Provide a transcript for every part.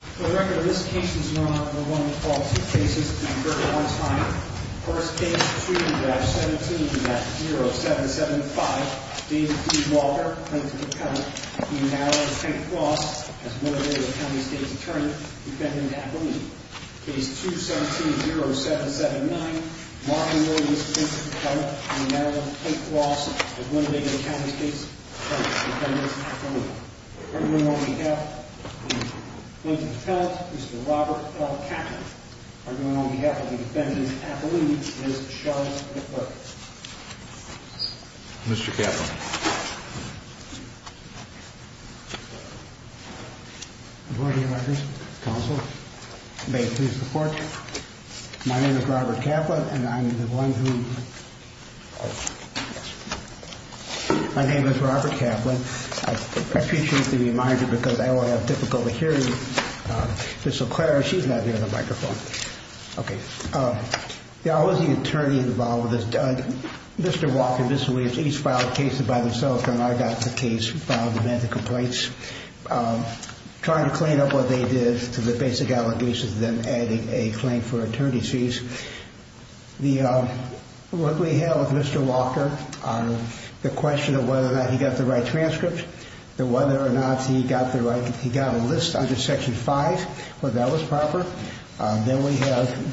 The record of this case is no longer one of the faulty cases, and the verdict on it is mine. First case, 2-17-0775, David D. Walker, plaintiff's attorney. He now will take the loss as Winnebago County State's attorney, defendant Kathleen. Case 2-17-0779, Martin Williams, plaintiff's attorney. He now will take the loss as Winnebago County State's attorney, defendant Kathleen. Arguing on behalf of the plaintiff's attorney, Mr. Robert L. Kaplan. Arguing on behalf of the defendant's attorney, Ms. Shelly McClurk. Mr. Kaplan. Board of Directors, Counsel, may I please report? My name is Robert Kaplan, and I'm the one who... My name is Robert Kaplan. I appreciate the reminder because I don't want to have difficulty hearing Ms. McClurk. She's not here in the microphone. Okay. There are always the attorney involved with this. Mr. Walker and Ms. Williams each filed cases by themselves, and I got the case, filed the medical complaints. Trying to clean up what they did to the basic allegations, then adding a claim for attorney's fees. What we have with Mr. Walker, the question of whether or not he got the right transcript, whether or not he got a list under Section 5, whether that was proper. Then we have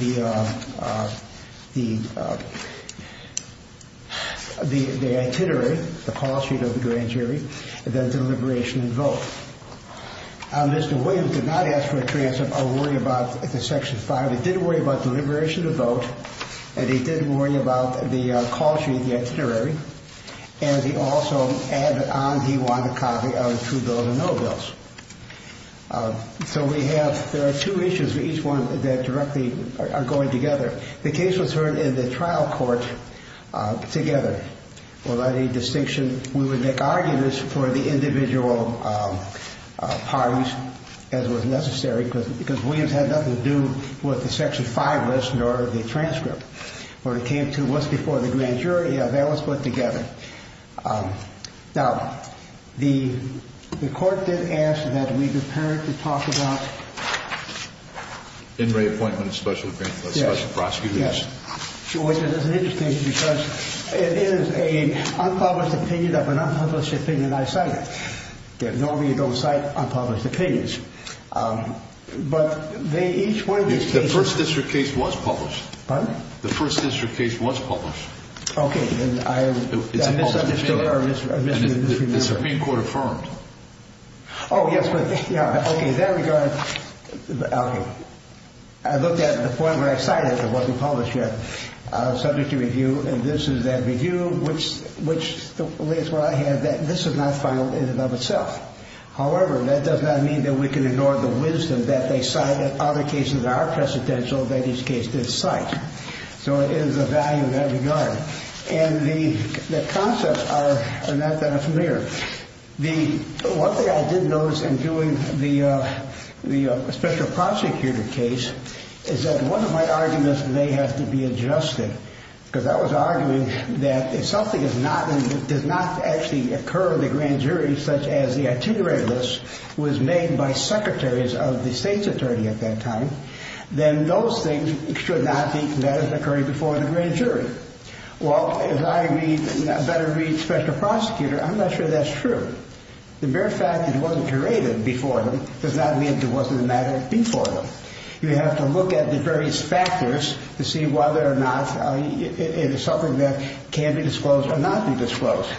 the itinerary, the call sheet of the grand jury, and then deliberation and vote. Mr. Williams did not ask for a transcript or worry about the Section 5. He did worry about deliberation and vote, and he did worry about the call sheet, the itinerary, and he also added on he wanted a copy of the true bills and no bills. So we have, there are two issues for each one that directly are going together. The case was heard in the trial court together. Without any distinction, we would make arguments for the individual parties as was necessary because Williams had nothing to do with the Section 5 list or the transcript. When it came to what's before the grand jury, yeah, that was put together. Now, the court did ask that we prepare to talk about In re-appointment of special prosecutors. Yes. Which is interesting because it is an unpublished opinion of an unpublished opinion I cited. Normally you don't cite unpublished opinions. But each one of these cases The first district case was published. Pardon? The first district case was published. Okay. It's a published opinion. The Supreme Court affirmed. Oh, yes, but in that regard, okay. I looked at the point where I cited it. It wasn't published yet. And this is that review which lays where I had that this is not final in and of itself. However, that does not mean that we can ignore the wisdom that they cited. Other cases are precedential that each case did cite. So it is of value in that regard. And the concepts are not that familiar. One thing I did notice in doing the special prosecutor case Is that one of my arguments may have to be adjusted. Because I was arguing that if something does not actually occur in the grand jury Such as the itinerary list was made by secretaries of the state's attorney at that time Then those things should not be occurring before the grand jury. Well, as I better read special prosecutor, I'm not sure that's true. The mere fact that it wasn't curated before them does not mean it wasn't a matter before them. You have to look at the various factors to see whether or not It is something that can be disclosed or not be disclosed.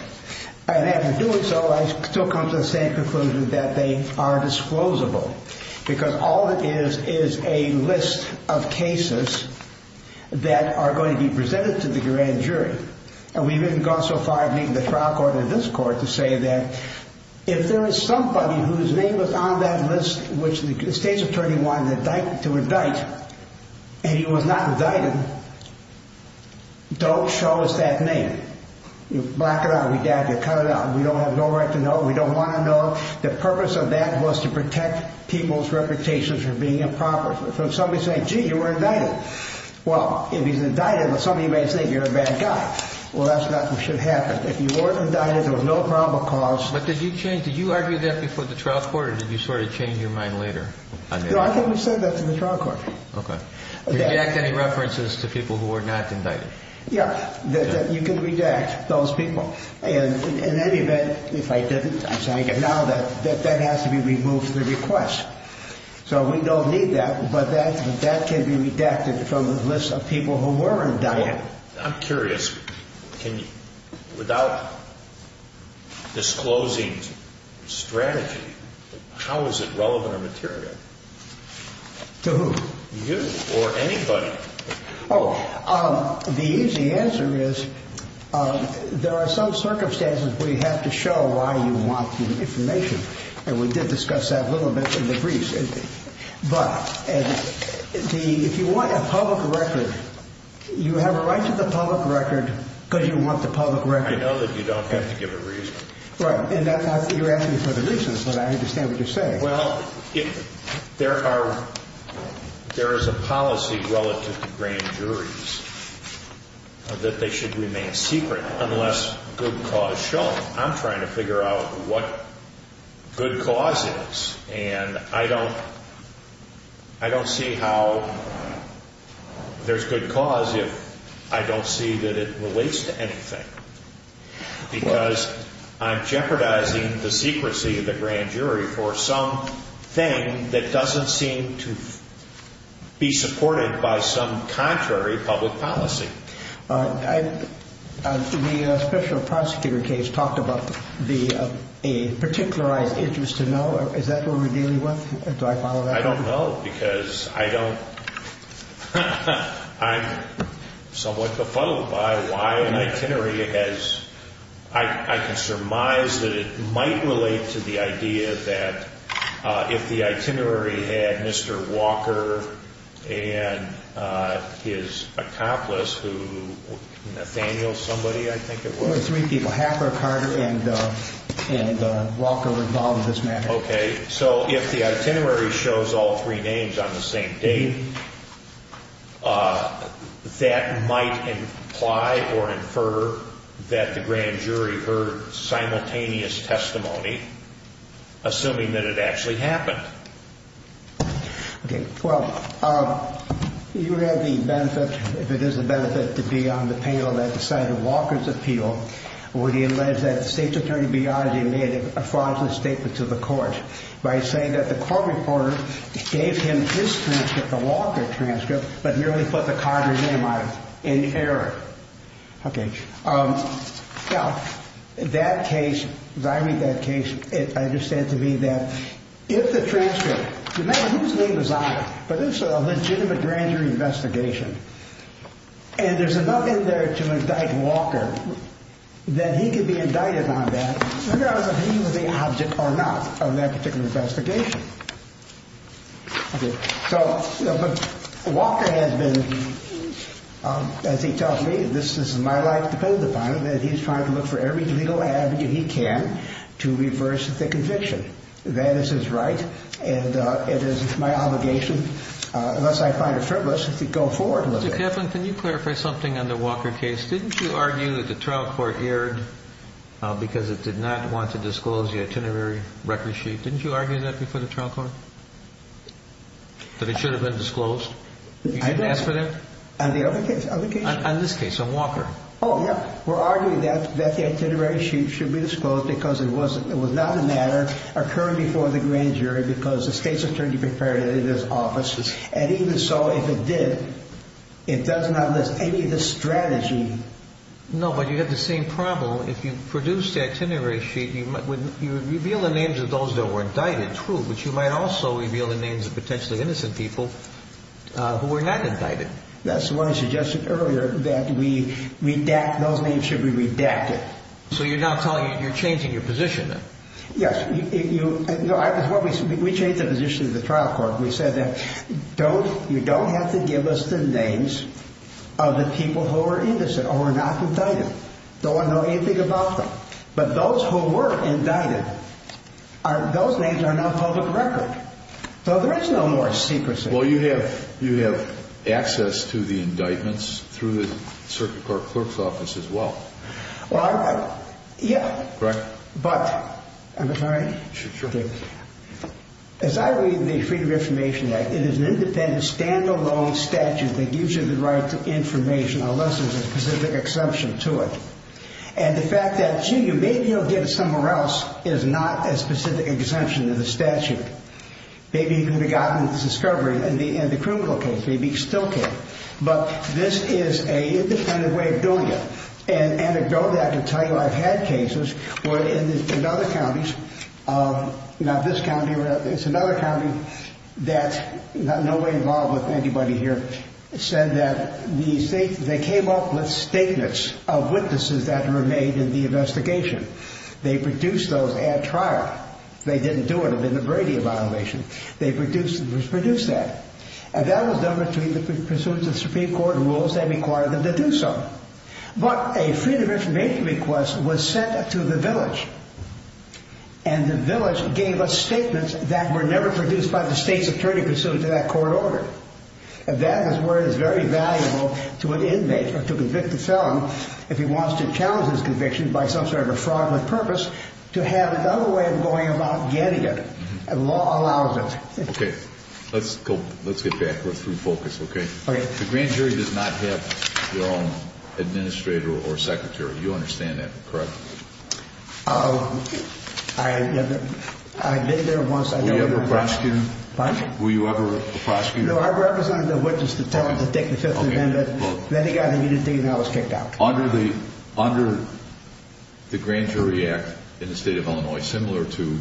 And after doing so, I still come to the same conclusion that they are disclosable. Because all it is is a list of cases that are going to be presented to the grand jury. And we haven't gone so far as meeting the trial court or this court to say that If there is somebody whose name was on that list, which the state's attorney wanted to indict And he was not indicted, don't show us that name. Black it out, redact it, cut it out. We don't have no right to know. We don't want to know. The purpose of that was to protect people's reputation for being improper. So if somebody is saying, gee, you were indicted. Well, if he's indicted, somebody may say, you're a bad guy. Well, that's not what should happen. If you were indicted, there was no probable cause. But did you change, did you argue that before the trial court or did you sort of change your mind later? No, I think we said that to the trial court. Okay. Redact any references to people who were not indicted. Yeah, you can redact those people. And in any event, if I didn't, I'm saying it now, that has to be removed from the request. So we don't need that, but that can be redacted from the list of people who were indicted. I'm curious, without disclosing strategy, how is it relevant or material? To who? You or anybody. Oh, the easy answer is there are some circumstances where you have to show why you want the information. And we did discuss that a little bit in the briefs. But if you want a public record, you have a right to the public record because you want the public record. I know that you don't have to give a reason. Right. And you're asking me for the reasons, but I understand what you're saying. Well, there is a policy relative to grand juries that they should remain secret unless good cause shown. I'm trying to figure out what good cause is, and I don't see how there's good cause if I don't see that it relates to anything. Because I'm jeopardizing the secrecy of the grand jury for something that doesn't seem to be supported by some contrary public policy. The special prosecutor case talked about a particularized interest to know. Is that what we're dealing with? Do I follow that? I don't know because I'm somewhat befuddled by why an itinerary has – Nathaniel, somebody, I think it was. Three people, Harper, Carter, and Walker were involved in this matter. Okay. So if the itinerary shows all three names on the same date, that might imply or infer that the grand jury heard simultaneous testimony, assuming that it actually happened. Okay. Well, you have the benefit, if it is a benefit, to be on the panel that decided Walker's appeal, where he alleged that the state's attorney made a fraudulent statement to the court by saying that the court reporter gave him his transcript, the Walker transcript, but merely put the Carter's name on it in error. Okay. Now, that case, as I read that case, I understand to me that if the transcript – remember, his name was on it, but this is a legitimate grand jury investigation. And there's enough in there to indict Walker that he could be indicted on that regardless of whether he was the object or not of that particular investigation. Okay. So – but Walker has been, as he tells me, this is my life, dependent upon him, and he's trying to look for every legal avenue he can to reverse the conviction. That is his right, and it is my obligation, unless I find it frivolous, to go forward with it. Mr. Kaplan, can you clarify something on the Walker case? Didn't you argue that the trial court erred because it did not want to disclose the itinerary record sheet? Didn't you argue that before the trial court, that it should have been disclosed? I didn't. You didn't ask for that? On the other case? On this case, on Walker. Oh, yeah. We're arguing that the itinerary sheet should be disclosed because it was not a matter occurring before the grand jury because the state's attorney prepared it in his offices. And even so, if it did, it does not list any of the strategy. No, but you have the same problem. If you produce the itinerary sheet, you would reveal the names of those that were indicted, true, but you might also reveal the names of potentially innocent people who were not indicted. That's why I suggested earlier that those names should be redacted. So you're now telling me you're changing your position, then? Yes. We changed the position of the trial court. We said that you don't have to give us the names of the people who were innocent or were not indicted. Don't want to know anything about them. But those who were indicted, those names are now public record. So there is no more secrecy. Well, you have access to the indictments through the circuit court clerk's office as well. Well, yeah. Correct. But I'm sorry. Sure. As I read the Freedom of Information Act, it is an independent, stand-alone statute that gives you the right to information unless there's a specific exemption to it. And the fact that, gee, you may be able to get it somewhere else is not a specific exemption to the statute. Maybe you could have gotten this discovery in the criminal case. Maybe you still can't. But this is an independent way of doing it. And anecdotally, I can tell you I've had cases where in other counties, not this county, it's another county that nobody involved with anybody here, said that they came up with statements of witnesses that were made in the investigation. They produced those at trial. If they didn't do it, it would have been a Brady violation. They produced that. And that was done between the pursuance of Supreme Court rules that required them to do so. But a Freedom of Information request was sent to the village. And the village gave us statements that were never produced by the state's attorney pursuant to that court order. And that, as it were, is very valuable to an inmate or to a convicted felon if he wants to challenge his conviction by some sort of a fraudulent purpose to have another way of going about getting it. And law allows it. Okay. Let's go. Let's get back. We're through focus, okay? Okay. The grand jury does not have their own administrator or secretary. You understand that, correct? I did there once. Were you ever a prosecutor? Pardon? Were you ever a prosecutor? No, I represented a witness to tell him to take the Fifth Amendment. Then he got immunity, and I was kicked out. Under the Grand Jury Act in the state of Illinois, similar to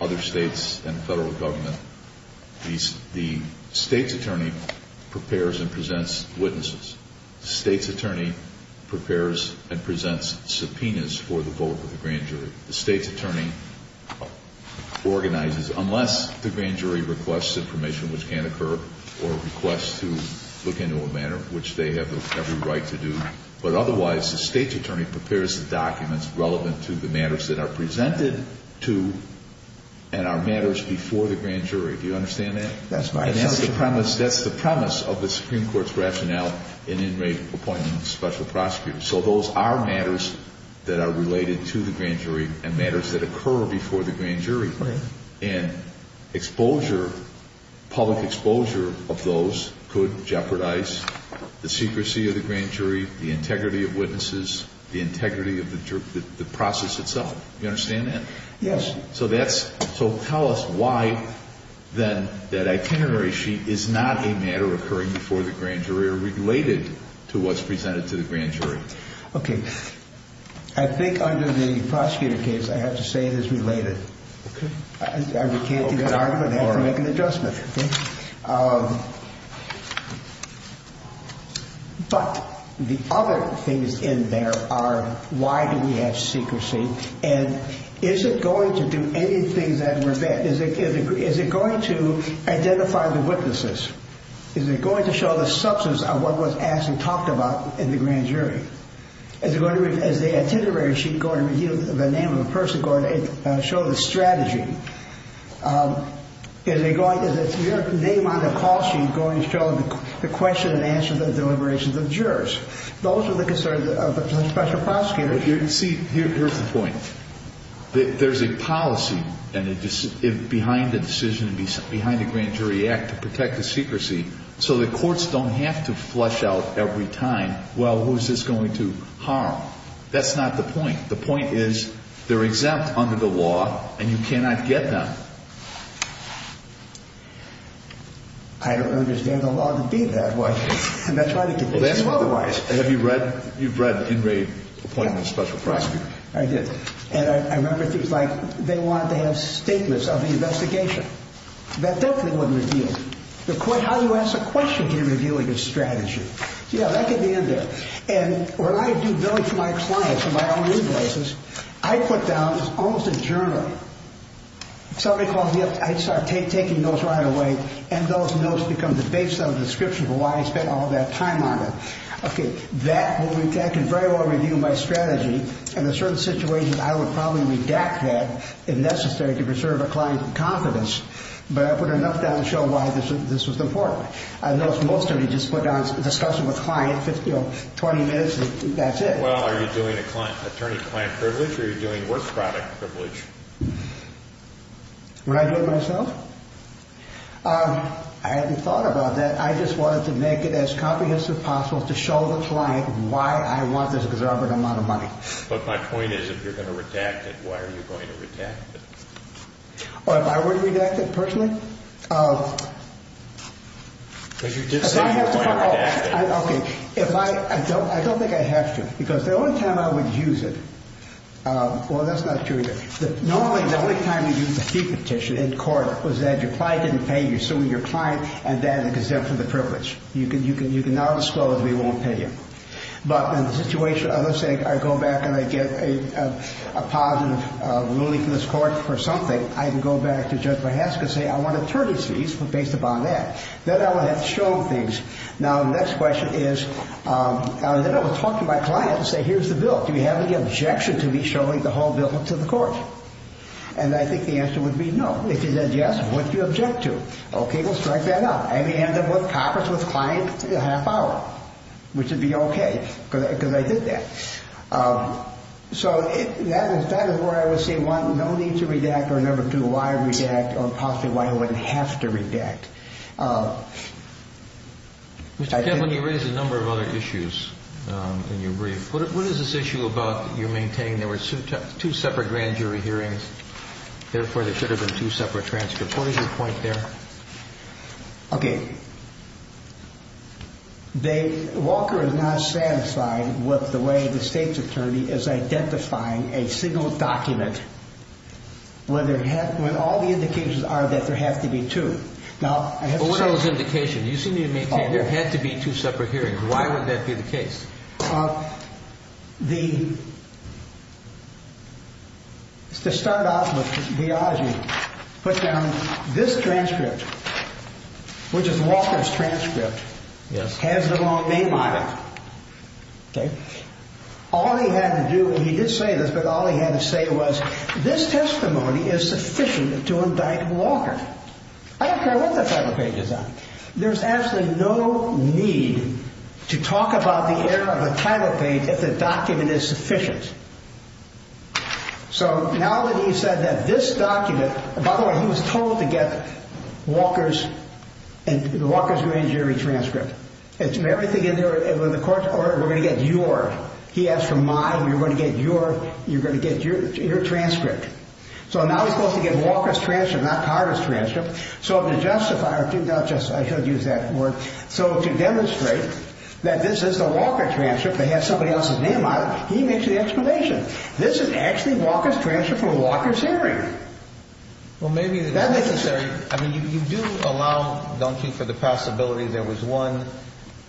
other states and federal government, the state's attorney prepares and presents witnesses. The state's attorney prepares and presents subpoenas for the vote of the grand jury. The state's attorney organizes, unless the grand jury requests information, which can occur, or requests to look into a matter, which they have every right to do. But otherwise, the state's attorney prepares the documents relevant to the matters that are presented to and are matters before the grand jury. Do you understand that? That's my assumption. That's the premise of the Supreme Court's rationale in inmate appointment with a special prosecutor. So those are matters that are related to the grand jury and matters that occur before the grand jury. Right. And exposure, public exposure of those could jeopardize the secrecy of the grand jury, the integrity of witnesses, the integrity of the process itself. You understand that? Yes. So that's, so tell us why then that itinerary sheet is not a matter occurring before the grand jury or related to what's presented to the grand jury. Okay. I think under the prosecutor case, I have to say it is related. Okay. I can't even argue it. I have to make an adjustment. Okay. But the other things in there are why do we have secrecy? And is it going to do anything that we're, is it going to identify the witnesses? Is it going to show the substance of what was asked and talked about in the grand jury? Is it going to, is the itinerary sheet going to reveal the name of the person, going to show the strategy? Is it going, is the name on the call sheet going to show the question and answer of the deliberations of jurors? Those are the concerns of the special prosecutor. You see, here's the point. There's a policy behind the decision, behind the Grand Jury Act to protect the secrecy so the courts don't have to flush out every time, well, who's this going to harm? That's not the point. The point is they're exempt under the law, and you cannot get them. I don't understand the law to be that way. And that's why they could be otherwise. Have you read, you've read the in raid appointment of the special prosecutor? I did. And I remember things like they wanted to have statements of the investigation. That definitely wouldn't reveal. The court, how do you ask a question to reveal a good strategy? Yeah, that could be in there. And when I do billing for my clients and my own invoices, I put down almost a journal. Somebody calls me up, I start taking notes right away, and those notes become the base of the description for why I spent all that time on it. Okay, that can very well reveal my strategy. In a certain situation, I would probably redact that if necessary to preserve a client's confidence. But I put enough down to show why this was important. I noticed most of you just put down a discussion with a client, you know, 20 minutes, and that's it. Well, are you doing attorney-client privilege, or are you doing work product privilege? Would I do it myself? I haven't thought about that. I just wanted to make it as comprehensive as possible to show the client why I want this exorbitant amount of money. But my point is if you're going to redact it, why are you going to redact it? If I were to redact it personally? But you did say you were going to redact it. Okay. I don't think I have to because the only time I would use it, well, that's not true either. Normally, the only time you use a fee petition in court was that your client didn't pay you, you're suing your client, and then exempt from the privilege. You can now disclose we won't pay you. But in the situation, let's say I go back and I get a positive ruling from this court for something, I can go back to Judge Vahaska and say, I want attorney's fees based upon that. Then I will have to show him things. Now, the next question is, then I will talk to my client and say, here's the bill. Do you have any objection to me showing the whole bill to the court? And I think the answer would be no. If he says yes, what do you object to? Okay, we'll strike that out. I may end up with coppers with clients for a half hour, which would be okay because I did that. So that is where I would say, one, no need to redact, or number two, why redact, or possibly why I wouldn't have to redact. Mr. Kemp, you raised a number of other issues in your brief. What is this issue about you maintaining there were two separate grand jury hearings, therefore there should have been two separate transcripts? What is your point there? Okay. Walker is not satisfied with the way the state's attorney is identifying a single document when all the indications are that there have to be two. What are those indications? You seem to maintain there had to be two separate hearings. Why would that be the case? To start off with, put down this transcript, which is Walker's transcript, has the wrong name on it. All he had to do, and he did say this, but all he had to say was, this testimony is sufficient to indict Walker. I don't care what that type of page is on. There's absolutely no need to talk about the error of a title page if the document is sufficient. So now that he said that this document, by the way, he was told to get Walker's grand jury transcript. Everything in there, in the court's order, we're going to get your. He asked for mine, you're going to get your transcript. So now he's supposed to get Walker's transcript, not Carter's transcript. So the justifier, I should use that word. So to demonstrate that this is the Walker transcript that has somebody else's name on it, he makes the explanation. This is actually Walker's transcript from Walker's hearing. Well, maybe that makes sense. I mean, you do allow, don't you, for the possibility there was one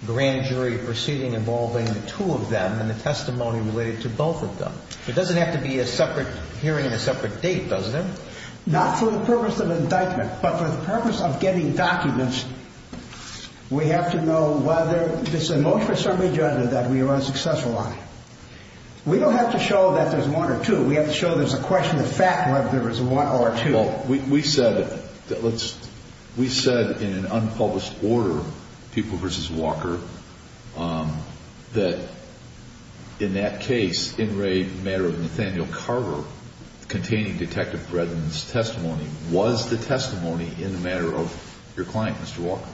grand jury proceeding involving the two of them and the testimony related to both of them. It doesn't have to be a separate hearing and a separate date, does it? Not for the purpose of indictment, but for the purpose of getting documents, we have to know whether this is a motion or summary judgment that we were unsuccessful on. We don't have to show that there's one or two. We have to show there's a question of fact whether there was one or two. Well, we said in an unpublished order, People v. Walker, that in that case, in re matter of Nathaniel Carter containing Detective Bredin's testimony, was the testimony in the matter of your client, Mr. Walker.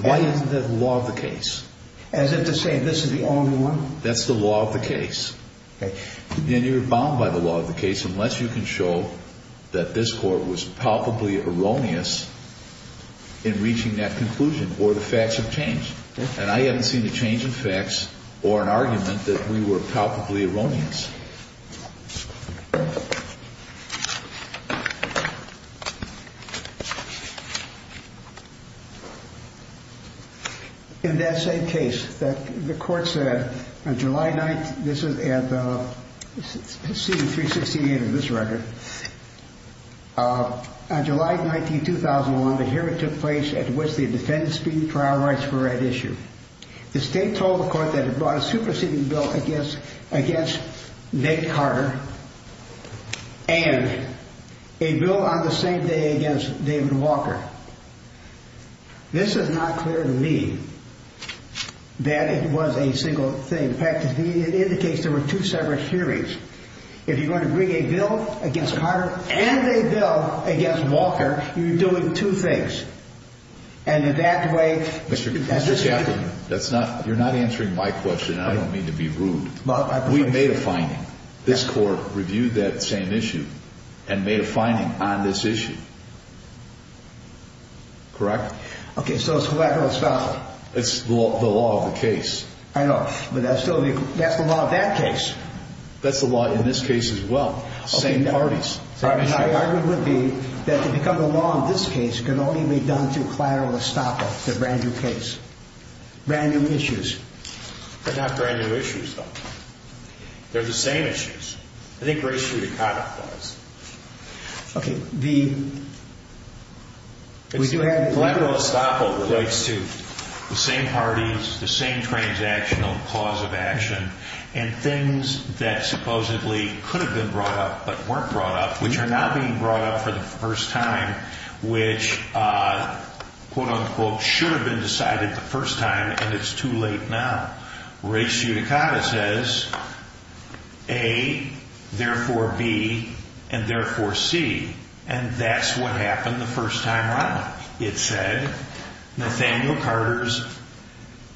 Why isn't that the law of the case? As in to say this is the only one? That's the law of the case. And you're bound by the law of the case unless you can show that this court was palpably erroneous in reaching that conclusion or the facts have changed. And I haven't seen a change in facts or an argument that we were palpably erroneous. In that same case, the court said on July 9th, this is at C-368 of this record, on July 19, 2001, but here it took place at which the defendant's speeding trial rights were at issue. The state told the court that it brought a superseding bill against Nick Carter and a bill on the same day against David Walker. This is not clear to me that it was a single thing. In fact, it indicates there were two separate hearings. If you're going to bring a bill against Carter and a bill against Walker, you're doing two things. And in that way... Mr. Chaplin, you're not answering my question, and I don't mean to be rude. We made a finding. This court reviewed that same issue and made a finding on this issue. Correct? Okay, so it's collateral expense. It's the law of the case. I know, but that's the law of that case. That's the law in this case as well, same parties. My argument would be that to become a law in this case can only be done through collateral estoppel, the brand-new case. Brand-new issues. They're not brand-new issues, though. They're the same issues. I think race judicata applies. Okay, the... Collateral estoppel relates to the same parties, the same transactional cause of action, and things that supposedly could have been brought up but weren't brought up, which are now being brought up for the first time, which, quote-unquote, should have been decided the first time, and it's too late now. Race judicata says, A, therefore B, and therefore C, and that's what happened the first time around. It said, Nathaniel Carter's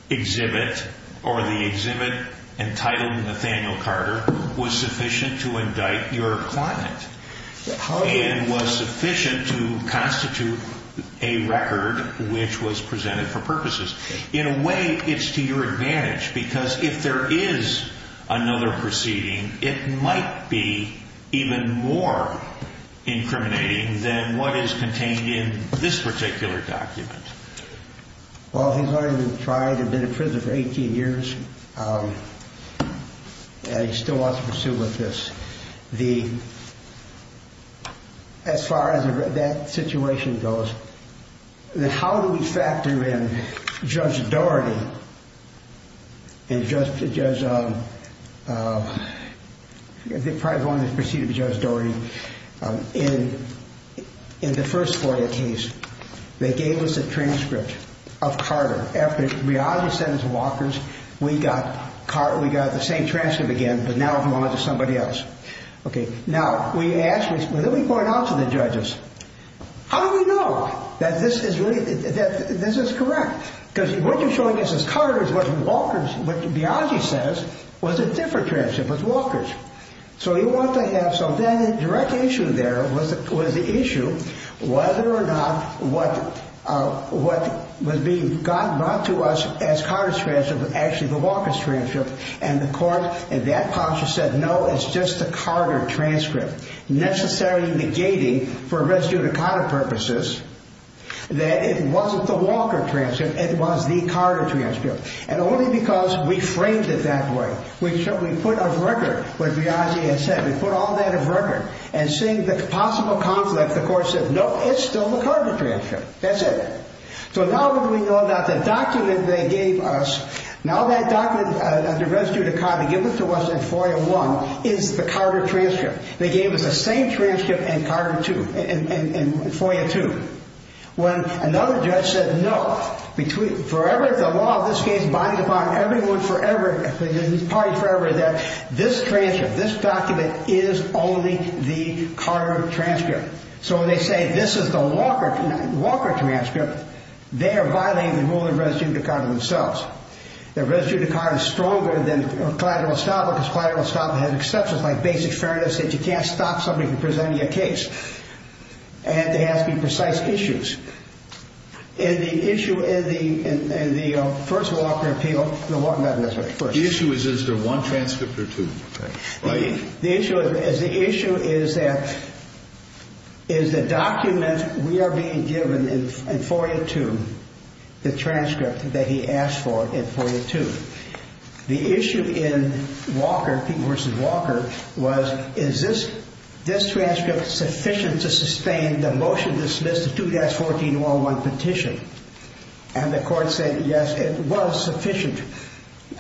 exhibit or the exhibit entitled Nathaniel Carter was sufficient to indict your client and was sufficient to constitute a record which was presented for purposes. In a way, it's to your advantage because if there is another proceeding, it might be even more incriminating than what is contained in this particular document. Well, he's already been tried and been in prison for 18 years, and he still wants to pursue with this. As far as that situation goes, how do we factor in Judge Daugherty and Judge... I think probably the only one that's preceded Judge Daugherty. In the first FOIA case, they gave us a transcript of Carter. After Biagi sent his walkers, we got the same transcript again, but now it belongs to somebody else. Now, we asked, and then we point out to the judges, how do we know that this is correct? Because what you're showing us is Carter's wasn't walkers. What Biagi says was a different transcript, was walkers. So the direct issue there was the issue whether or not what was being brought to us as Carter's transcript was actually the walkers' transcript. And the court, in that posture, said, no, it's just the Carter transcript. Necessarily negating, for res judicata purposes, that it wasn't the walkers' transcript, it was the Carter transcript. And only because we framed it that way, we put of record what Biagi had said. We put all that of record. And seeing the possible conflict, the court said, no, it's still the Carter transcript. That's it. So now that we know that the document they gave us, now that document as a res judicata given to us in FOIA 1 is the Carter transcript. They gave us the same transcript in FOIA 2. When another judge said, no, forever the law of this case binds upon everyone forever, parties forever, that this transcript, this document is only the Carter transcript. So when they say this is the walker transcript, they are violating the rule of res judicata themselves. The res judicata is stronger than collateral estoppel because collateral estoppel has exceptions like basic fairness that you can't stop somebody from presenting a case. And there has to be precise issues. And the issue in the first walker appeal, the walker got it first. The issue is, is there one transcript or two? The issue is that, is the document we are being given in FOIA 2, the transcript that he asked for in FOIA 2. The issue in walker, people versus walker, was, is this transcript sufficient to sustain the motion to dismiss the 2-1401 petition? And the court said, yes, it was sufficient.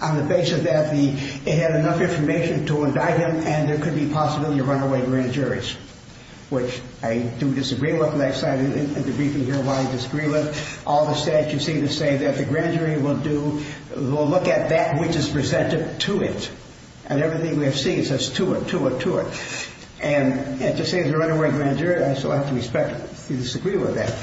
On the basis that it had enough information to indict him and there could be possibility of runaway grand juries, which I do disagree with. And I decided in the briefing here why I disagree with. All the statutes seem to say that the grand jury will look at that which is presented to it. And everything we have seen says to it, to it, to it. And to say there is a runaway grand jury, I have to respectfully disagree with that.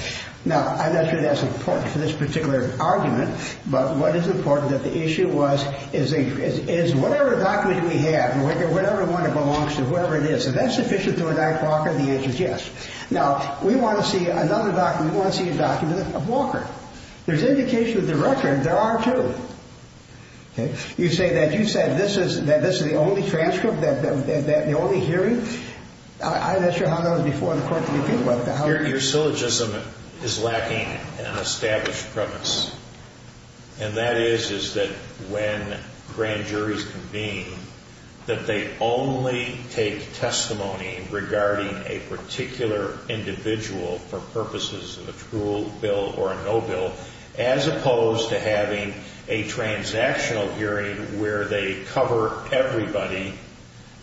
Now, I'm not sure that's important for this particular argument. But what is important is that the issue was, is whatever document we have, whatever one it belongs to, whatever it is, is that sufficient to indict Walker? The answer is yes. Now, we want to see another document. We want to see a document of Walker. There's indication of the record. There are two. Okay. You say that you said this is, that this is the only transcript, that the only hearing. I'm not sure how that was before the court that you think about it. Your syllogism is lacking an established premise. And that is, is that when grand juries convene, that they only take testimony regarding a particular individual for purposes of a true bill or a no bill, as opposed to having a transactional hearing where they cover everybody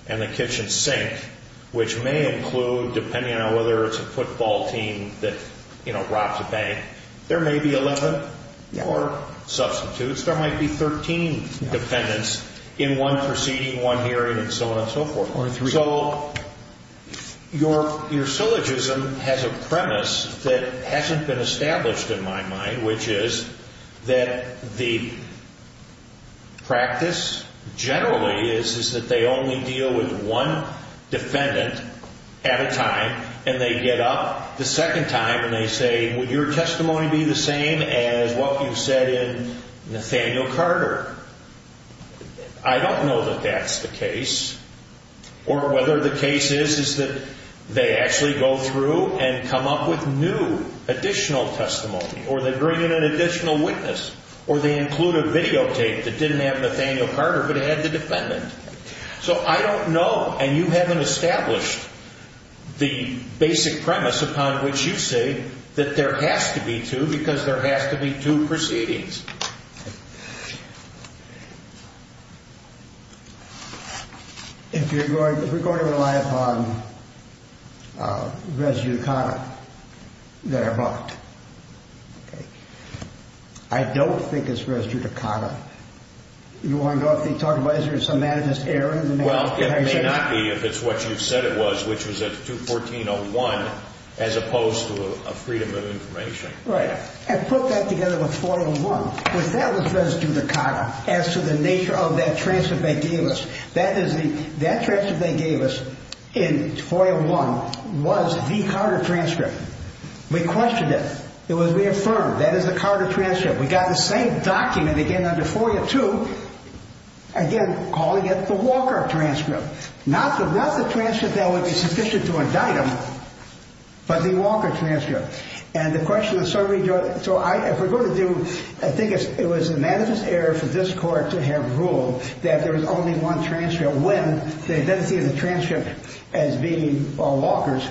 and the kitchen sink, which may include, depending on whether it's a football team that, you know, robs a bank, there may be 11 or substitutes. There might be 13 defendants in one proceeding, one hearing, and so on and so forth. So your syllogism has a premise that hasn't been established in my mind, which is that the practice generally is that they only deal with one defendant at a time, and they get up the second time and they say, would your testimony be the same as what you said in Nathaniel Carter? I don't know that that's the case, or whether the case is that they actually go through and come up with new additional testimony, or they bring in an additional witness, or they include a videotape that didn't have Nathaniel Carter, but it had the defendant. So I don't know, and you haven't established the basic premise upon which you say that there has to be two, because there has to be two proceedings. If you're going to rely upon res judicata that are brought, I don't think it's res judicata. You want to go off the target by some manager's error? Well, it may not be if it's what you said it was, which was at 214.01, as opposed to a freedom of information. Right. And put that together with 4.01, which that was res judicata as to the nature of that transcript they gave us. That transcript they gave us in 4.01 was the Carter transcript. We questioned it. It was reaffirmed. That is the Carter transcript. We got the same document again under 4.02, again, calling it the Walker transcript. Not the transcript that would be sufficient to indict him, but the Walker transcript. And the question is, so if we're going to do, I think it was a manager's error for this court to have ruled that there was only one transcript when they didn't see the transcript as being Walker's,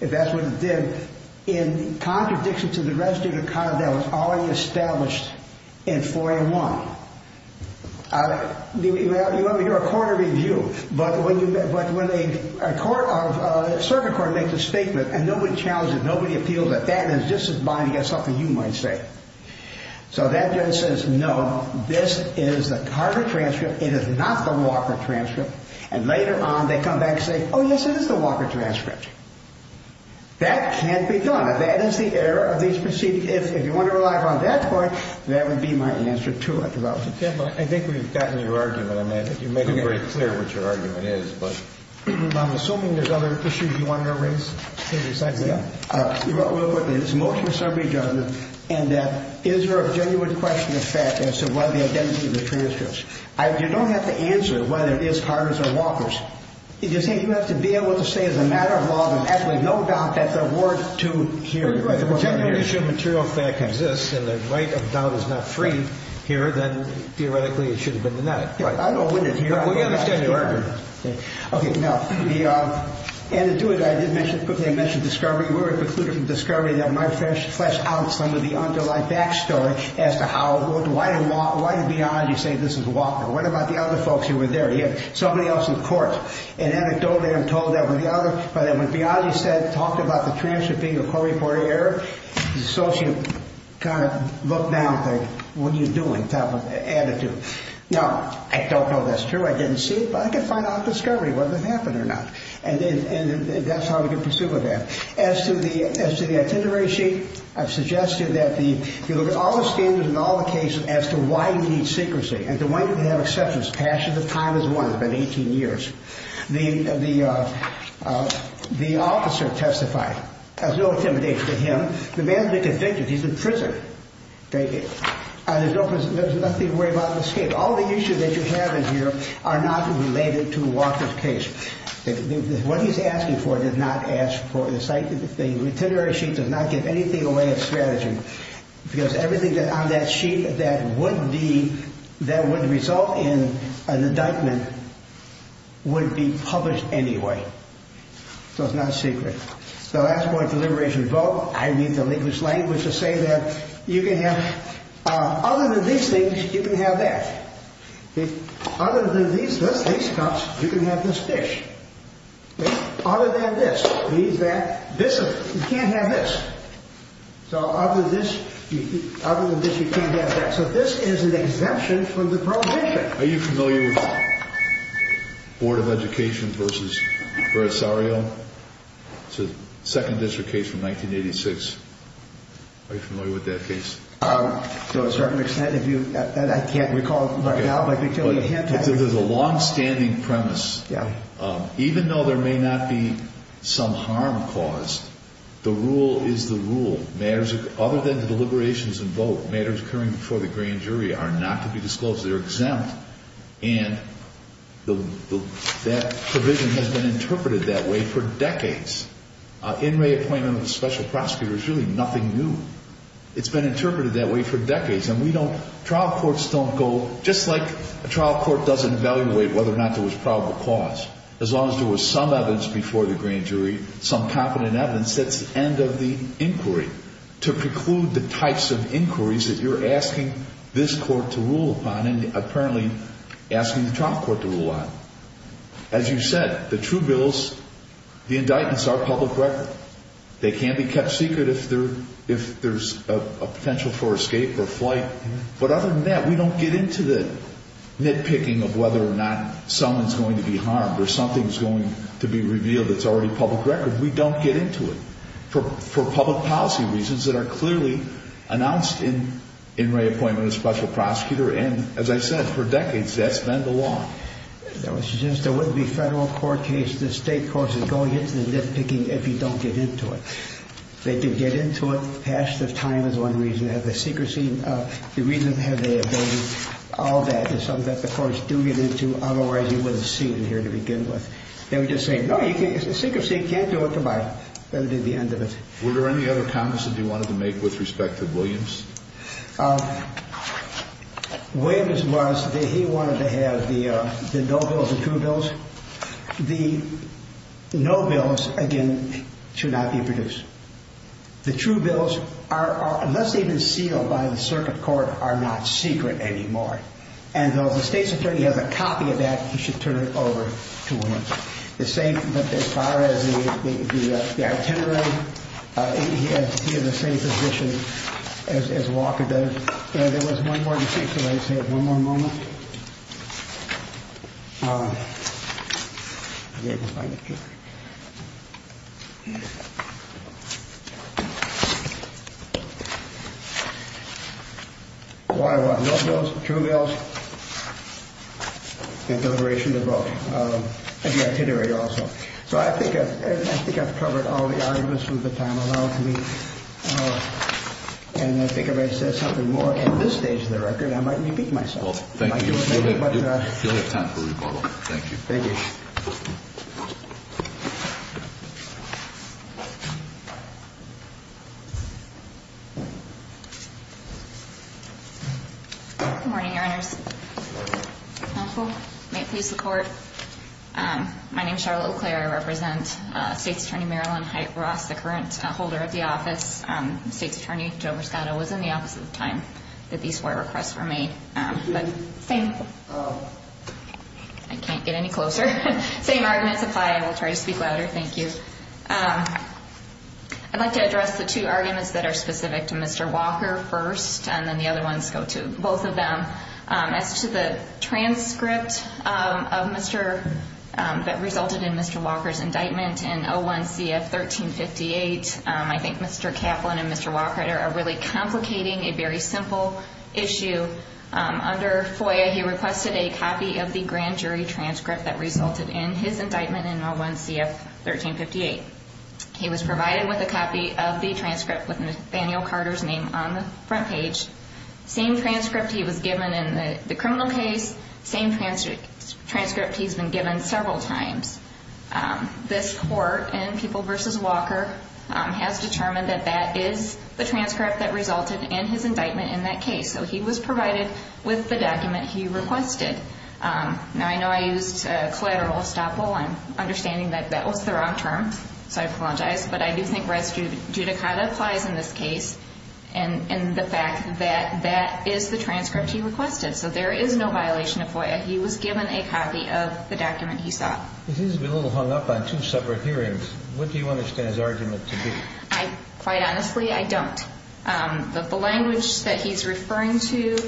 if that's what it did, in contradiction to the res judicata that was already established in 4.01. You want to hear a court of review, but when a circuit court makes a statement and nobody challenges it, nobody appeals it, that is just as binding as something you might say. So that judge says, no, this is the Carter transcript. It is not the Walker transcript. And later on, they come back and say, oh, yes, it is the Walker transcript. That can't be done. That is the error of these proceedings. If you want to rely upon that point, that would be my answer to it. I think we've gotten your argument. I mean, I think you've made it very clear what your argument is. But I'm assuming there's other issues you want to raise. Yes, I do. It's mostly summary judgment. And is there a genuine question of fact as to what the identity of the transcripts? You don't have to answer whether it is Carter's or Walker's. You have to be able to say as a matter of law, there's absolutely no doubt that there were two here. If the genuine issue of material fact exists and the right of doubt is not free here, then theoretically it should have been the net. I don't know whether it's here or not. We understand your argument. Okay. Now, to do it, I did mention discovery. We were concluding discovery that might flesh out some of the underlying backstory as to how, why in beyond do you say this is Walker? What about the other folks who were there? Somebody else in the court. And anecdotally, I'm told that when Biagi talked about the transcript being a court-reported error, his associate kind of looked down and said, what are you doing type of attitude? Now, I don't know if that's true. I didn't see it. But I can find out at discovery whether it happened or not. And that's how we can pursue with that. As to the itinerary sheet, I've suggested that you look at all the standards and all the cases as to why you need secrecy. And to why you can have exceptions. Passion of time is one. It's been 18 years. The officer testified. There's no intimidation to him. The man's been convicted. He's in prison. There's nothing to worry about in this case. All the issues that you have in here are not related to Walker's case. What he's asking for does not ask for the site. The itinerary sheet does not give anything away of strategy. Because everything on that sheet that would result in an indictment would be published anyway. So it's not secret. So that's my deliberation vote. I need the linguist's language to say that you can have, other than these things, you can have that. Other than these cups, you can have this dish. Other than this, you can't have this. So other than this, you can't have that. So this is an exemption from the parole district. Are you familiar with Board of Education v. Brasario? It's a second district case from 1986. Are you familiar with that case? To a certain extent. I can't recall right now, but I can tell you a hint. There's a longstanding premise. Even though there may not be some harm caused, the rule is the rule. Other than the deliberations and vote, matters occurring before the grand jury are not to be disclosed. They're exempt. And that provision has been interpreted that way for decades. In reappointment with a special prosecutor is really nothing new. It's been interpreted that way for decades. And we don't, trial courts don't go, just like a trial court doesn't evaluate whether or not there was probable cause. As long as there was some evidence before the grand jury, some competent evidence, that's the end of the inquiry. To preclude the types of inquiries that you're asking this court to rule upon and apparently asking the trial court to rule on. As you said, the true bills, the indictments are public record. They can be kept secret if there's a potential for escape or flight. But other than that, we don't get into the nitpicking of whether or not someone's going to be harmed or something's going to be revealed that's already public record. We don't get into it for public policy reasons that are clearly announced in reappointment with a special prosecutor. And as I said, for decades, that's been the law. There was just, there wouldn't be federal court cases, state courses going into the nitpicking if you don't get into it. They can get into it, pass the time is one reason. They have the secrecy, the reason they have the ability, all that is something that the courts do get into, otherwise you wouldn't see it in here to begin with. They would just say, no, you can't, secrecy, can't do it, come on. That would be the end of it. Were there any other comments that you wanted to make with respect to Williams? Williams was, he wanted to have the no bills and true bills. The no bills, again, should not be produced. The true bills are, unless they've been sealed by the circuit court, are not secret anymore. And though the state's attorney has a copy of that, he should turn it over to Williams. The same, as far as the itinerary, he is in the same position as Walker does. There was one more thing I'd like to say, one more moment. I think I've covered all the arguments through the time allowed to me, and I think if I said something more at this stage of the record, I might repeat myself. Thank you all. Thank you. You'll have time for rebuttal. Thank you. Thank you. Good morning, Your Honors. May it please the Court. My name is Charlotte LeClair. I represent State's Attorney Marilyn Height-Ross, the current holder of the office. State's Attorney Joe Briscato was in the office at the time that these four requests were made. I can't get any closer. Same arguments apply. I will try to speak louder. Thank you. I'd like to address the two arguments that are specific to Mr. Walker first, and then the other ones go to both of them. As to the transcript that resulted in Mr. Walker's indictment in 01-CF-1358, I think Mr. Kaplan and Mr. Walker are really complicating a very simple issue. Under FOIA, he requested a copy of the grand jury transcript that resulted in his indictment in 01-CF-1358. He was provided with a copy of the transcript with Nathaniel Carter's name on the front page. Same transcript he was given in the criminal case, same transcript he's been given several times. This Court in People v. Walker has determined that that is the transcript that resulted in his indictment in that case. So he was provided with the document he requested. Now, I know I used collateral estoppel. I'm understanding that that was the wrong term, so I apologize. But I do think res judicata applies in this case, and the fact that that is the transcript he requested. So there is no violation of FOIA. He was given a copy of the document he sought. He seems to be a little hung up on two separate hearings. What do you understand his argument to be? Quite honestly, I don't. The language that he's referring to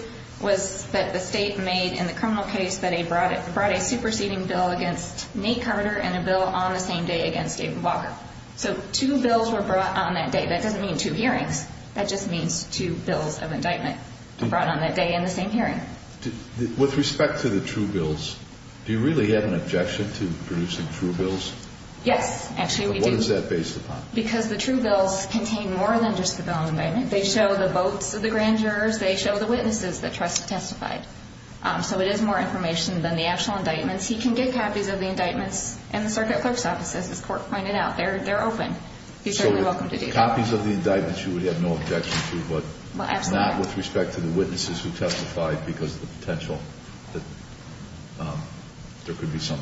was that the State made in the criminal case that they brought a superseding bill against Nate Carter and a bill on the same day against David Walker. So two bills were brought on that day. That doesn't mean two hearings. That just means two bills of indictment brought on that day in the same hearing. With respect to the true bills, do you really have an objection to producing true bills? Yes, actually we do. What is that based upon? Because the true bills contain more than just the bill on indictment. They show the votes of the grand jurors. They show the witnesses that trust testified. So it is more information than the actual indictments. He can get copies of the indictments in the circuit clerk's office, as this court pointed out. They're open. He's certainly welcome to do that. So copies of the indictments you would have no objection to, but not with respect to the witnesses who testified because of the potential that there could be some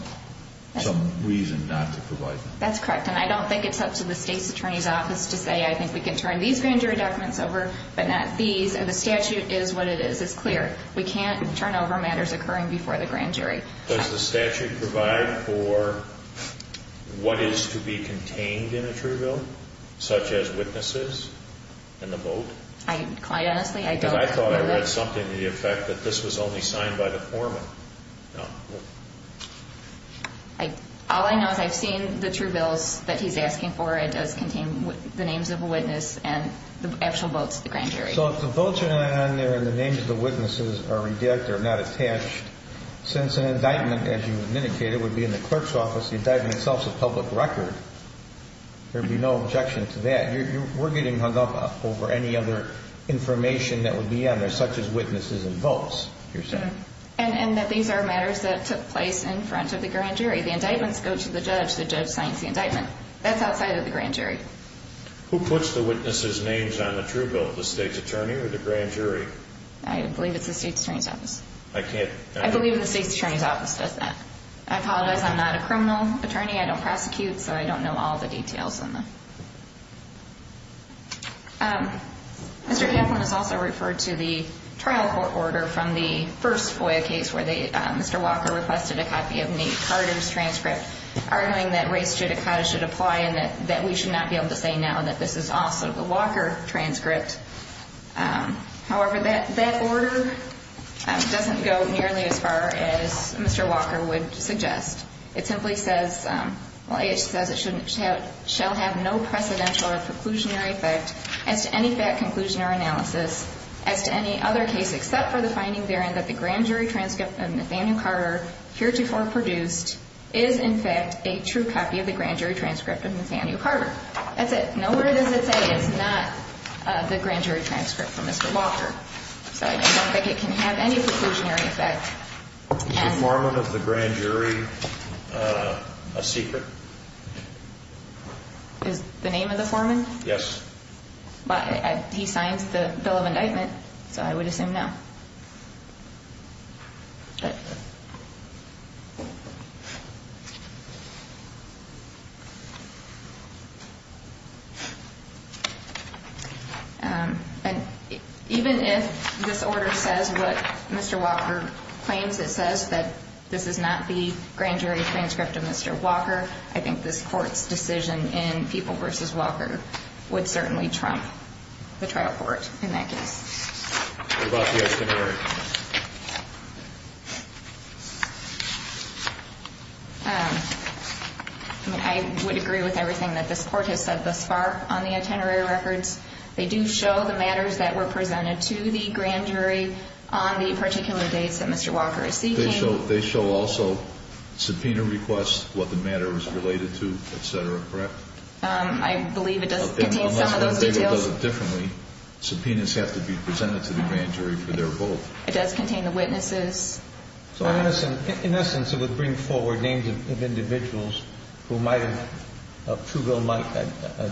reason not to provide them. That's correct. And I don't think it's up to the state's attorney's office to say, I think we can turn these grand jury documents over but not these. The statute is what it is. It's clear. We can't turn over matters occurring before the grand jury. Does the statute provide for what is to be contained in a true bill, such as witnesses and the vote? Quite honestly, I don't know that. Because I thought I read something to the effect that this was only signed by the foreman. All I know is I've seen the true bills that he's asking for. It does contain the names of a witness and the actual votes of the grand jury. So if the votes are not on there and the names of the witnesses are redacted or not attached, since an indictment, as you indicated, would be in the clerk's office, the indictment itself is a public record, there would be no objection to that. We're getting hung up over any other information that would be on there, such as witnesses and votes, you're saying? And that these are matters that took place in front of the grand jury. The indictments go to the judge. The judge signs the indictment. That's outside of the grand jury. Who puts the witnesses' names on the true bill, the state's attorney or the grand jury? I believe it's the state's attorney's office. I believe the state's attorney's office does that. I apologize. I'm not a criminal attorney. I don't prosecute, so I don't know all the details. Mr. Kaplan has also referred to the trial court order from the first FOIA case where Mr. Walker requested a copy of Nate Carter's transcript, arguing that race judicata should apply and that we should not be able to say now that this is also the Walker transcript. However, that order doesn't go nearly as far as Mr. Walker would suggest. It simply says it shall have no precedential or preclusionary effect as to any fact conclusion or analysis as to any other case except for the finding therein that the grand jury transcript that Nathaniel Carter heretofore produced is, in fact, a true copy of the grand jury transcript of Nathaniel Carter. That's it. Nowhere does it say it's not the grand jury transcript from Mr. Walker. So I don't think it can have any preclusionary effect. Is the foreman of the grand jury a secret? Is the name of the foreman? Yes. He signs the bill of indictment, so I would assume no. Even if this order says what Mr. Walker claims, it says that this is not the grand jury transcript of Mr. Walker, I think this court's decision in Peeble v. Walker would certainly trump the trial court in that case. What about the itinerary? I would agree with everything that this court has said thus far on the itinerary records. They do show the matters that were presented to the grand jury on the particular dates that Mr. Walker is seeking. They show also subpoena requests, what the matter was related to, et cetera, correct? Subpoenas have to be presented to the grand jury for their vote. It does contain the witnesses. So in essence, it would bring forward names of individuals who might have,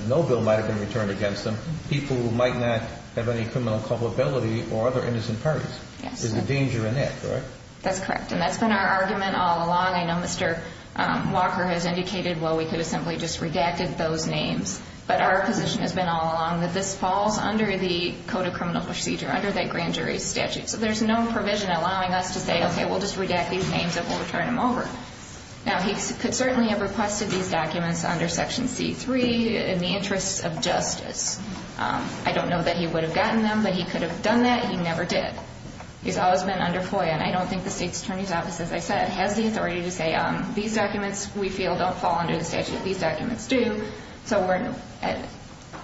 no bill might have been returned against them, people who might not have any criminal culpability or other innocent parties. Yes. There's a danger in that, correct? That's correct, and that's been our argument all along. I know Mr. Walker has indicated, well, we could have simply just redacted those names, but our position has been all along that this falls under the Code of Criminal Procedure, under that grand jury statute. So there's no provision allowing us to say, okay, we'll just redact these names and we'll return them over. Now, he could certainly have requested these documents under Section C-3 in the interests of justice. I don't know that he would have gotten them, but he could have done that. He never did. He's always been under FOIA, and I don't think the State's Attorney's Office, as I said, has the authority to say these documents we feel don't fall under the statute, these documents do. So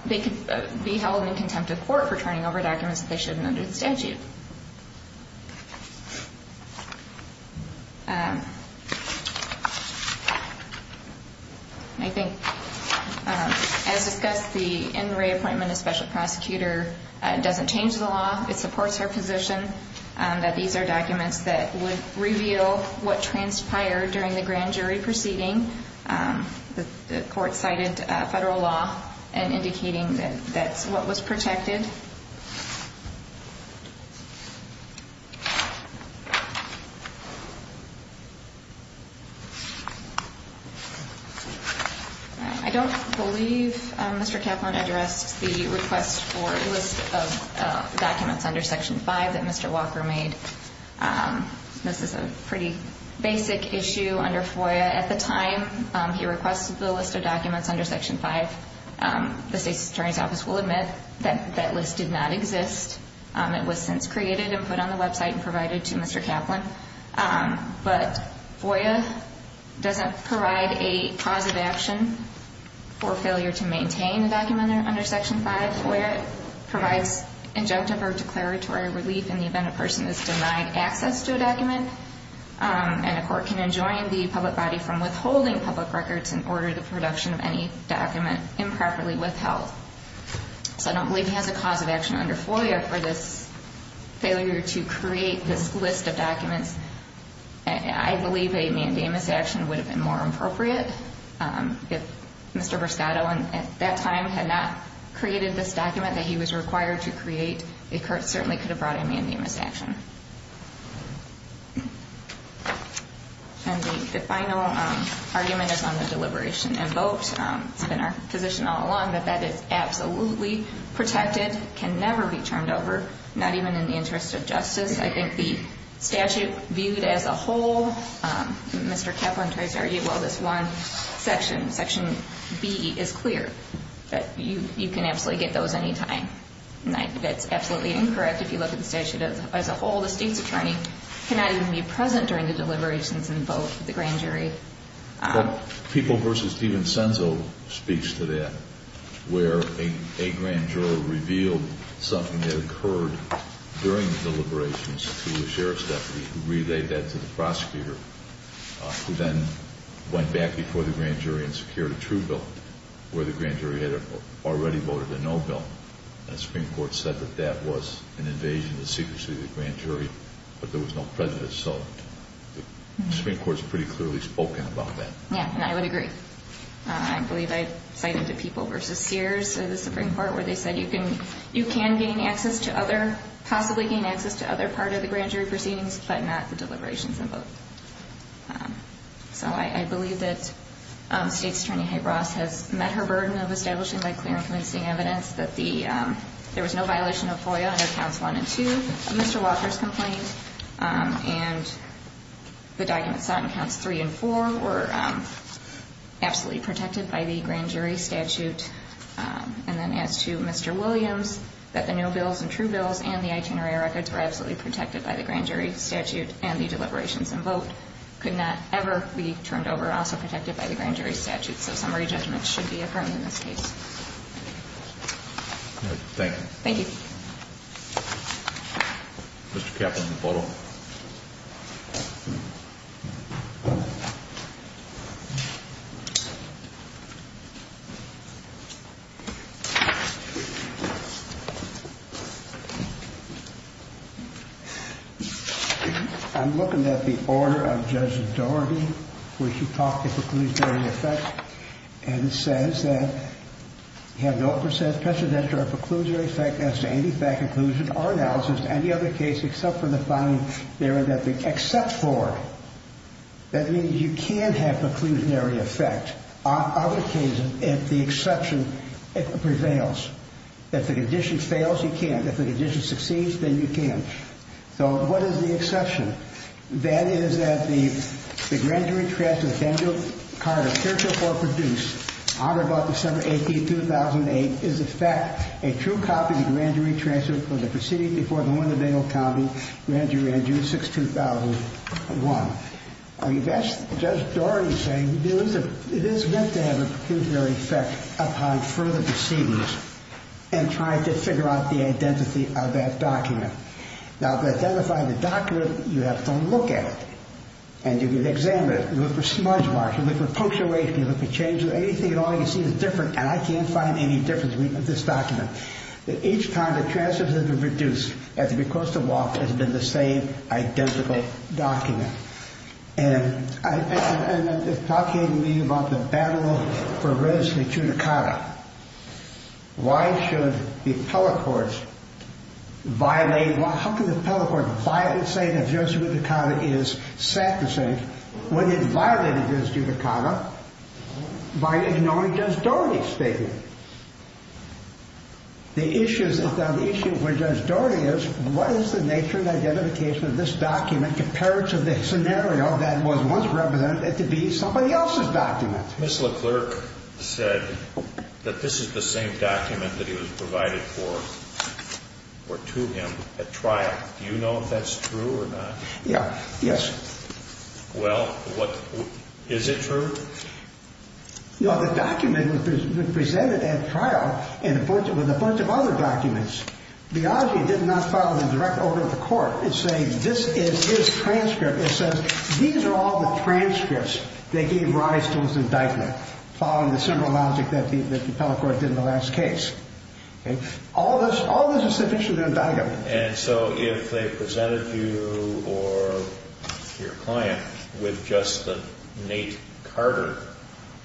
they could be held in contempt of court for turning over documents that they shouldn't under the statute. I think, as discussed, the in-ray appointment of special prosecutor doesn't change the law. It supports our position that these are documents that would reveal what transpired during the grand jury proceeding. The court cited federal law in indicating that that's what was protected. I don't believe Mr. Kaplan addressed the request for a list of documents under Section V that Mr. Walker made. This is a pretty basic issue under FOIA. At the time he requested the list of documents under Section V, the State's Attorney's Office will admit that that list did not exist. It was since created and put on the website and provided to Mr. Kaplan. But FOIA doesn't provide a cause of action for failure to maintain a document under Section V. FOIA provides injunctive or declaratory relief in the event a person is denied access to a document. And a court can enjoin the public body from withholding public records in order to production of any document improperly withheld. So I don't believe he has a cause of action under FOIA for this failure to create this list of documents. I believe a mandamus action would have been more appropriate. If Mr. Briscato at that time had not created this document that he was required to create, the court certainly could have brought a mandamus action. And the final argument is on the deliberation and vote. It's been our position all along that that is absolutely protected, can never be turned over, not even in the interest of justice. I think the statute viewed as a whole, Mr. Kaplan tries to argue, well, this one section, Section B, is clear that you can absolutely get those any time. That's absolutely incorrect if you look at the statute as a whole. The State's Attorney cannot even be present during the deliberations and vote of the grand jury. People versus Steven Senzo speaks to that, where a grand jury revealed something that occurred during the deliberations to the sheriff's deputy who relayed that to the prosecutor, who then went back before the grand jury and secured a true bill, where the grand jury had already voted a no bill. And the Supreme Court said that that was an invasion of the secrecy of the grand jury, but there was no prejudice. So the Supreme Court has pretty clearly spoken about that. Yeah, and I would agree. I believe I cited the people versus Sears in the Supreme Court, where they said you can gain access to other, possibly gain access to other part of the grand jury proceedings, but not the deliberations and vote. So I believe that State's Attorney Hay-Ross has met her burden of establishing the clear and convincing evidence that there was no violation of FOIA under counts one and two of Mr. Walker's complaint. And the documents sought in counts three and four were absolutely protected by the grand jury statute. And then as to Mr. Williams, that the no bills and true bills and the itinerary records were absolutely protected by the grand jury statute, and the deliberations and vote could not ever be turned over, also protected by the grand jury statute. So summary judgment should be affirmed in this case. Thank you. Thank you. Mr. Kaplan, the photo. I'm looking at the order of Judge Dougherty, which you talk to preclusionary effect, and it says that you have no precedent for a preclusionary effect as to any fact, inclusion, or analysis of any other case except for the finding therein that they accept for it. That means you can have preclusionary effect on other cases if the exception prevails. If the condition fails, you can't. If the condition succeeds, then you can. So what is the exception? That is that the grand jury transfer of Daniel Carter, character for produce, authored about December 18, 2008, is in fact a true copy of the grand jury transfer from the proceeding before the Winnebago County Grand Jury on June 6, 2001. I mean, that's Judge Dougherty saying it is meant to have a preclusionary effect upon further proceedings and trying to figure out the identity of that document. Now, to identify the document, you have to look at it. And you can examine it. You look for smudge marks. You look for punctuation. You look for changes. Anything at all you see is different, and I can't find any difference with this document. But each time the transfers have been reduced, at the request of WAPT, it has been the same identical document. And it's talking to me about the battle for residency to Carter. Why should the appellate courts violate? How can the appellate court violate and say that Judge Judicata is set to say when it violated Judge Judicata by ignoring Judge Dougherty's statement? The issue with Judge Dougherty is what is the nature and identification of this document compared to the scenario that was once represented to be somebody else's document? Ms. LeClerc said that this is the same document that he was provided for or to him at trial. Do you know if that's true or not? Yeah, yes. Well, is it true? No, the document was presented at trial with a bunch of other documents. Biagi did not file a direct order to the court. It's saying this is his transcript. It says these are all the transcripts they gave rise to his indictment, following the simple logic that the appellate court did in the last case. All this is sufficient to indict him. And so if they presented you or your client with just the Nate Carter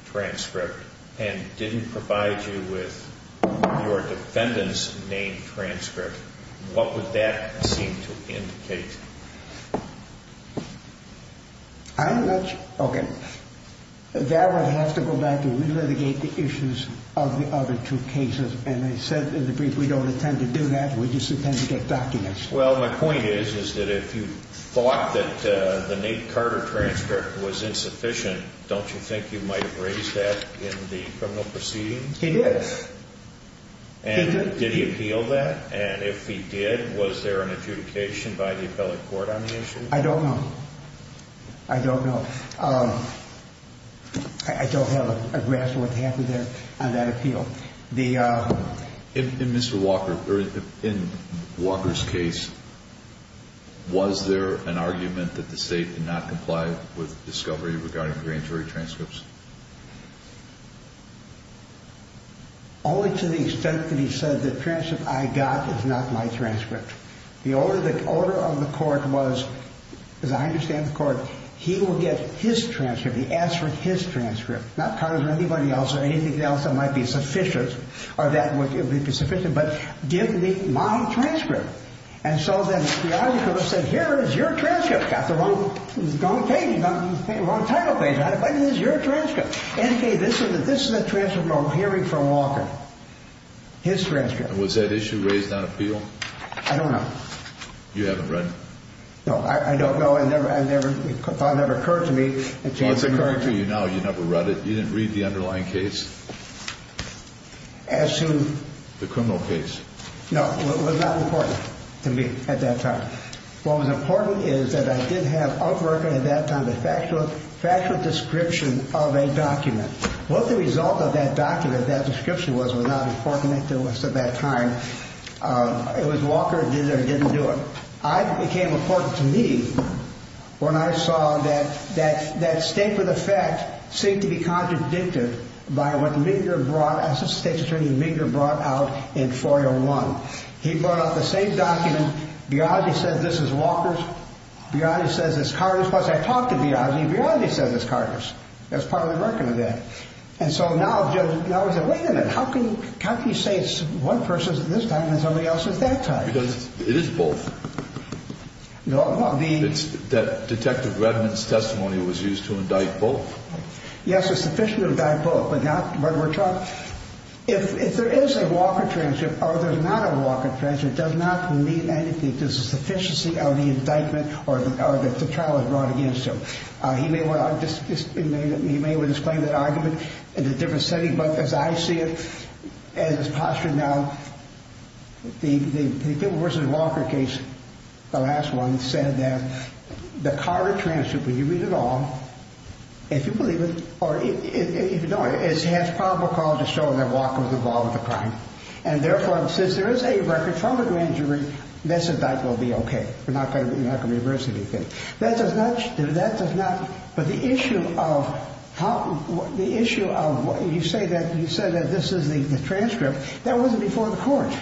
transcript and didn't provide you with your defendant's name transcript, what would that seem to indicate? I'm not sure. Okay. That would have to go back and re-litigate the issues of the other two cases. And I said in the brief we don't intend to do that. We just intend to get documents. Well, my point is that if you thought that the Nate Carter transcript was insufficient, don't you think you might have raised that in the criminal proceedings? He did. And did he appeal that? And if he did, was there an adjudication by the appellate court on the issue? I don't know. I don't know. I don't have a grasp of what happened there on that appeal. In Mr. Walker's case, was there an argument that the state did not comply with discovery regarding grand jury transcripts? Only to the extent that he said the transcript I got is not my transcript. The order of the court was, as I understand the court, he will get his transcript. He asked for his transcript. Not Carter's or anybody else's or anything else that might be sufficient or that would be sufficient, but give me my transcript. And so then the argument was said, here is your transcript. Got the wrong page, wrong title page. But it is your transcript. Indicate this is a transcript of a hearing from Walker. His transcript. And was that issue raised on appeal? I don't know. You haven't read it? No, I don't know. It never occurred to me. Well, it's occurring to you now. You never read it. You didn't read the underlying case? As to? The criminal case. No, it was not important to me at that time. What was important is that I did have up working at that time the factual description of a document. What the result of that document, that description was, was not important to us at that time. It was Walker that did it or didn't do it. It became important to me when I saw that that statement of fact seemed to be contradicted by what Minger brought, I said State's Attorney Minger brought out in 401. He brought out the same document. Biagi says this is Walker's. Biagi says it's Carter's. Once I talked to Biagi, Biagi says it's Carter's. That's part of the American event. And so now I said, wait a minute. How can you say it's one person's at this time and somebody else's at that time? Because it is both. That Detective Redmond's testimony was used to indict both. Yes, it's sufficient to indict both, but not when we're talking. If there is a Walker transcript or there's not a Walker transcript, it does not mean anything. There's a sufficiency of the indictment or the trial is brought against him. He may well explain that argument in a different setting, but as I see it, as it's postured now, the Pippen v. Walker case, the last one, said that the Carter transcript, when you read it all, if you believe it or if you don't, it has probable cause to show that Walker was involved in the crime. And therefore, since there is a record from the grand jury, this indictment will be okay. We're not going to reverse anything. That does not, but the issue of how, the issue of, you say that, you said that this is the transcript, that wasn't before the court.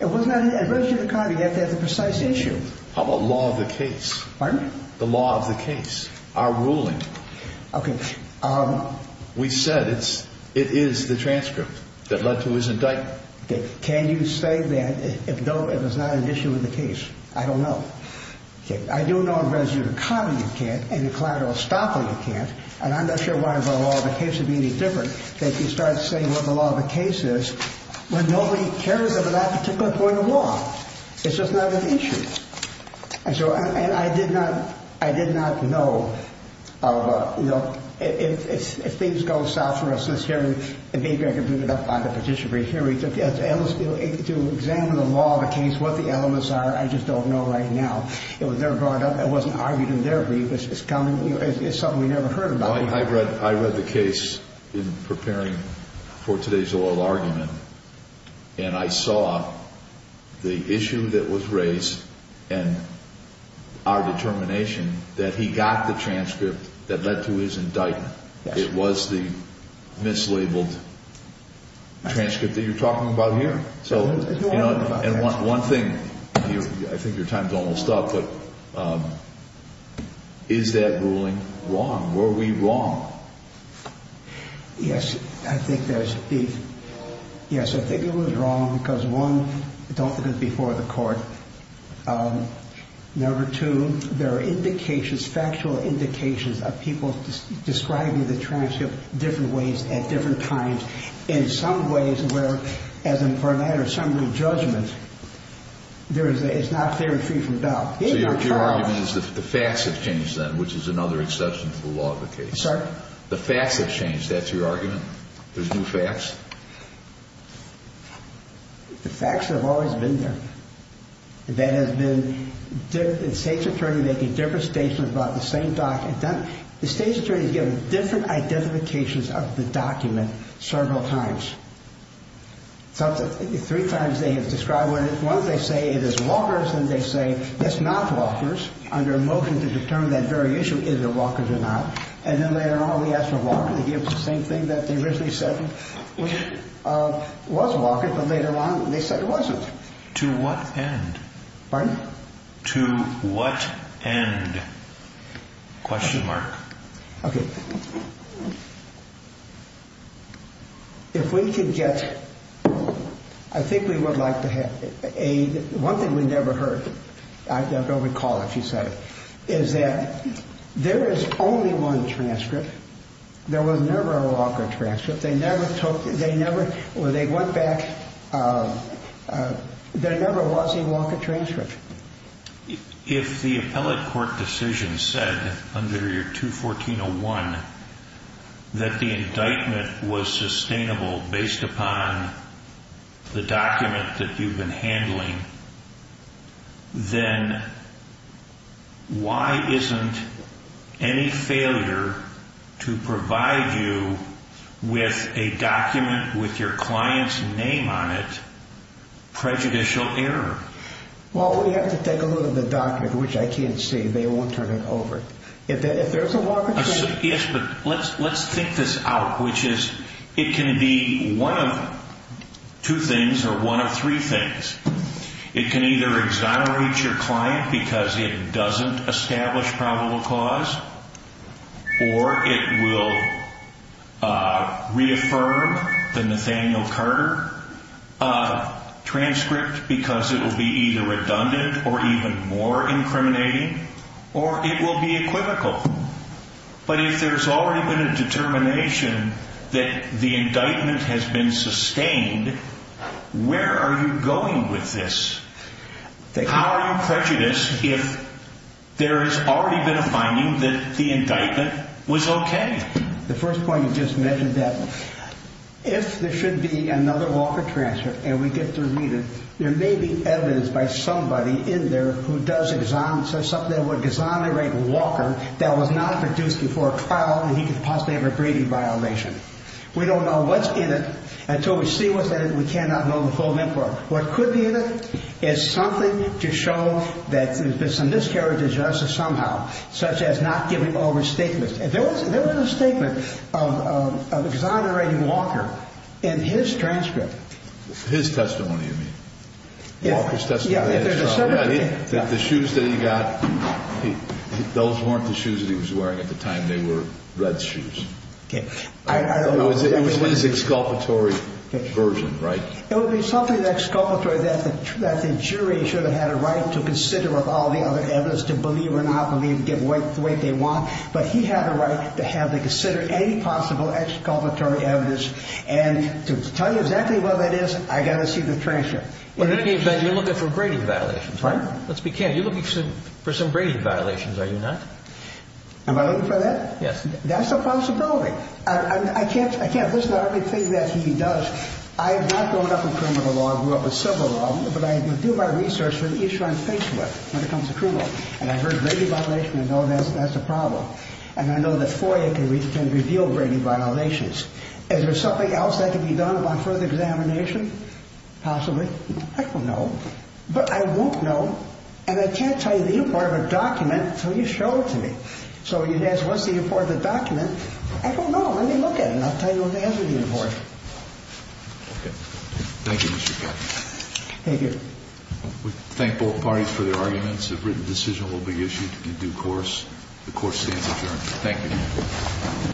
It was not, it wasn't before the court. You have to have the precise issue. How about law of the case? Pardon? The law of the case. Our ruling. Okay. We said it is the transcript that led to his indictment. Can you say that, though it was not an issue in the case? I don't know. Okay. I do know the residue of the common you can't and the collateral estoppel you can't, and I'm not sure why the law of the case would be any different, that you start saying what the law of the case is when nobody cares about that particular point of law. It's just not an issue. And so, and I did not, I did not know, you know, if things go south for us this year, and maybe I can bring it up on the petition brief here, to examine the law of the case, what the elements are, I just don't know right now. It was never brought up. It wasn't argued in there. It's something we never heard about. I read the case in preparing for today's oral argument, and I saw the issue that was raised and our determination that he got the transcript that led to his indictment. It was the mislabeled transcript that you're talking about here. So, you know, and one thing, I think your time's almost up, but is that ruling wrong? Were we wrong? Yes, I think there's, yes, I think it was wrong because, one, don't look at it before the court. Number two, there are indications, factual indications, of people describing the transcript different ways at different times, in some ways where, as a matter of summary judgment, there is not theory free from doubt. So your argument is the facts have changed then, which is another exception to the law of the case. The facts have changed. That's your argument? There's new facts? The facts have always been there. That has been, the state's attorney making different statements about the same document. The state's attorney has given different identifications of the document several times. Three times they have described what it is. Once they say it is Walker's, then they say it's not Walker's, under a motion to determine that very issue, is it Walker's or not. And then later on we asked for Walker to give the same thing that they originally said was Walker's, but later on they said it wasn't. To what end? Pardon? To what end? Question mark. Okay. If we could get, I think we would like to have, one thing we never heard, I don't recall if you said it, is that there is only one transcript. There was never a Walker transcript. There never was a Walker transcript. If the appellate court decision said under your 214.01 that the indictment was sustainable based upon the document that you've been handling, then why isn't any failure to provide you with a document with your client's name on it prejudicial error? Well, we have to take a look at the document, which I can't see. They won't turn it over. If there's a Walker transcript. Yes, but let's think this out, which is it can be one of two things or one of three things. It can either exonerate your client because it doesn't establish probable cause, or it will reaffirm the Nathaniel Carter transcript because it will be either redundant or even more incriminating, or it will be equivocal. But if there's already been a determination that the indictment has been sustained, where are you going with this? How are you prejudiced if there has already been a finding that the indictment was okay? The first point you just mentioned, if there should be another Walker transcript and we get to read it, there may be evidence by somebody in there who does something that would exonerate Walker that was not produced before trial and he could possibly have a grieving violation. We don't know what's in it until we see what's in it. We cannot know the full number. What could be in it is something to show that there's been some miscarriage of justice somehow, such as not giving over statements. There was a statement of exonerating Walker in his transcript. His testimony, you mean? Walker's testimony. The shoes that he got, those weren't the shoes that he was wearing at the time. They were Red's shoes. It was his exculpatory version, right? It would be something exculpatory that the jury should have had a right to consider with all the other evidence, to believe or not believe, give away the way they want, but he had a right to have them consider any possible exculpatory evidence and to tell you exactly what that is, I've got to see the transcript. In any event, you're looking for grading violations, right? Let's be careful. You're looking for some grading violations, are you not? Am I looking for that? Yes. That's a possibility. I can't. This is the only thing that he does. I have not grown up with criminal law. I grew up with civil law, but I do my research for the issue I'm faced with when it comes to criminal law, and I've heard grading violations and I know that's a problem, and I know that FOIA can reveal grading violations. Is there something else that can be done about further examination? Possibly. I don't know. But I won't know, and I can't tell you the import of a document until you show it to me. So you'd ask, what's the import of the document? I don't know. Let me look at it, and I'll tell you what the answer to the import is. Okay. Thank you, Mr. Katz. Thank you. We thank both parties for their arguments. A written decision will be issued in due course. The court stands adjourned. Thank you.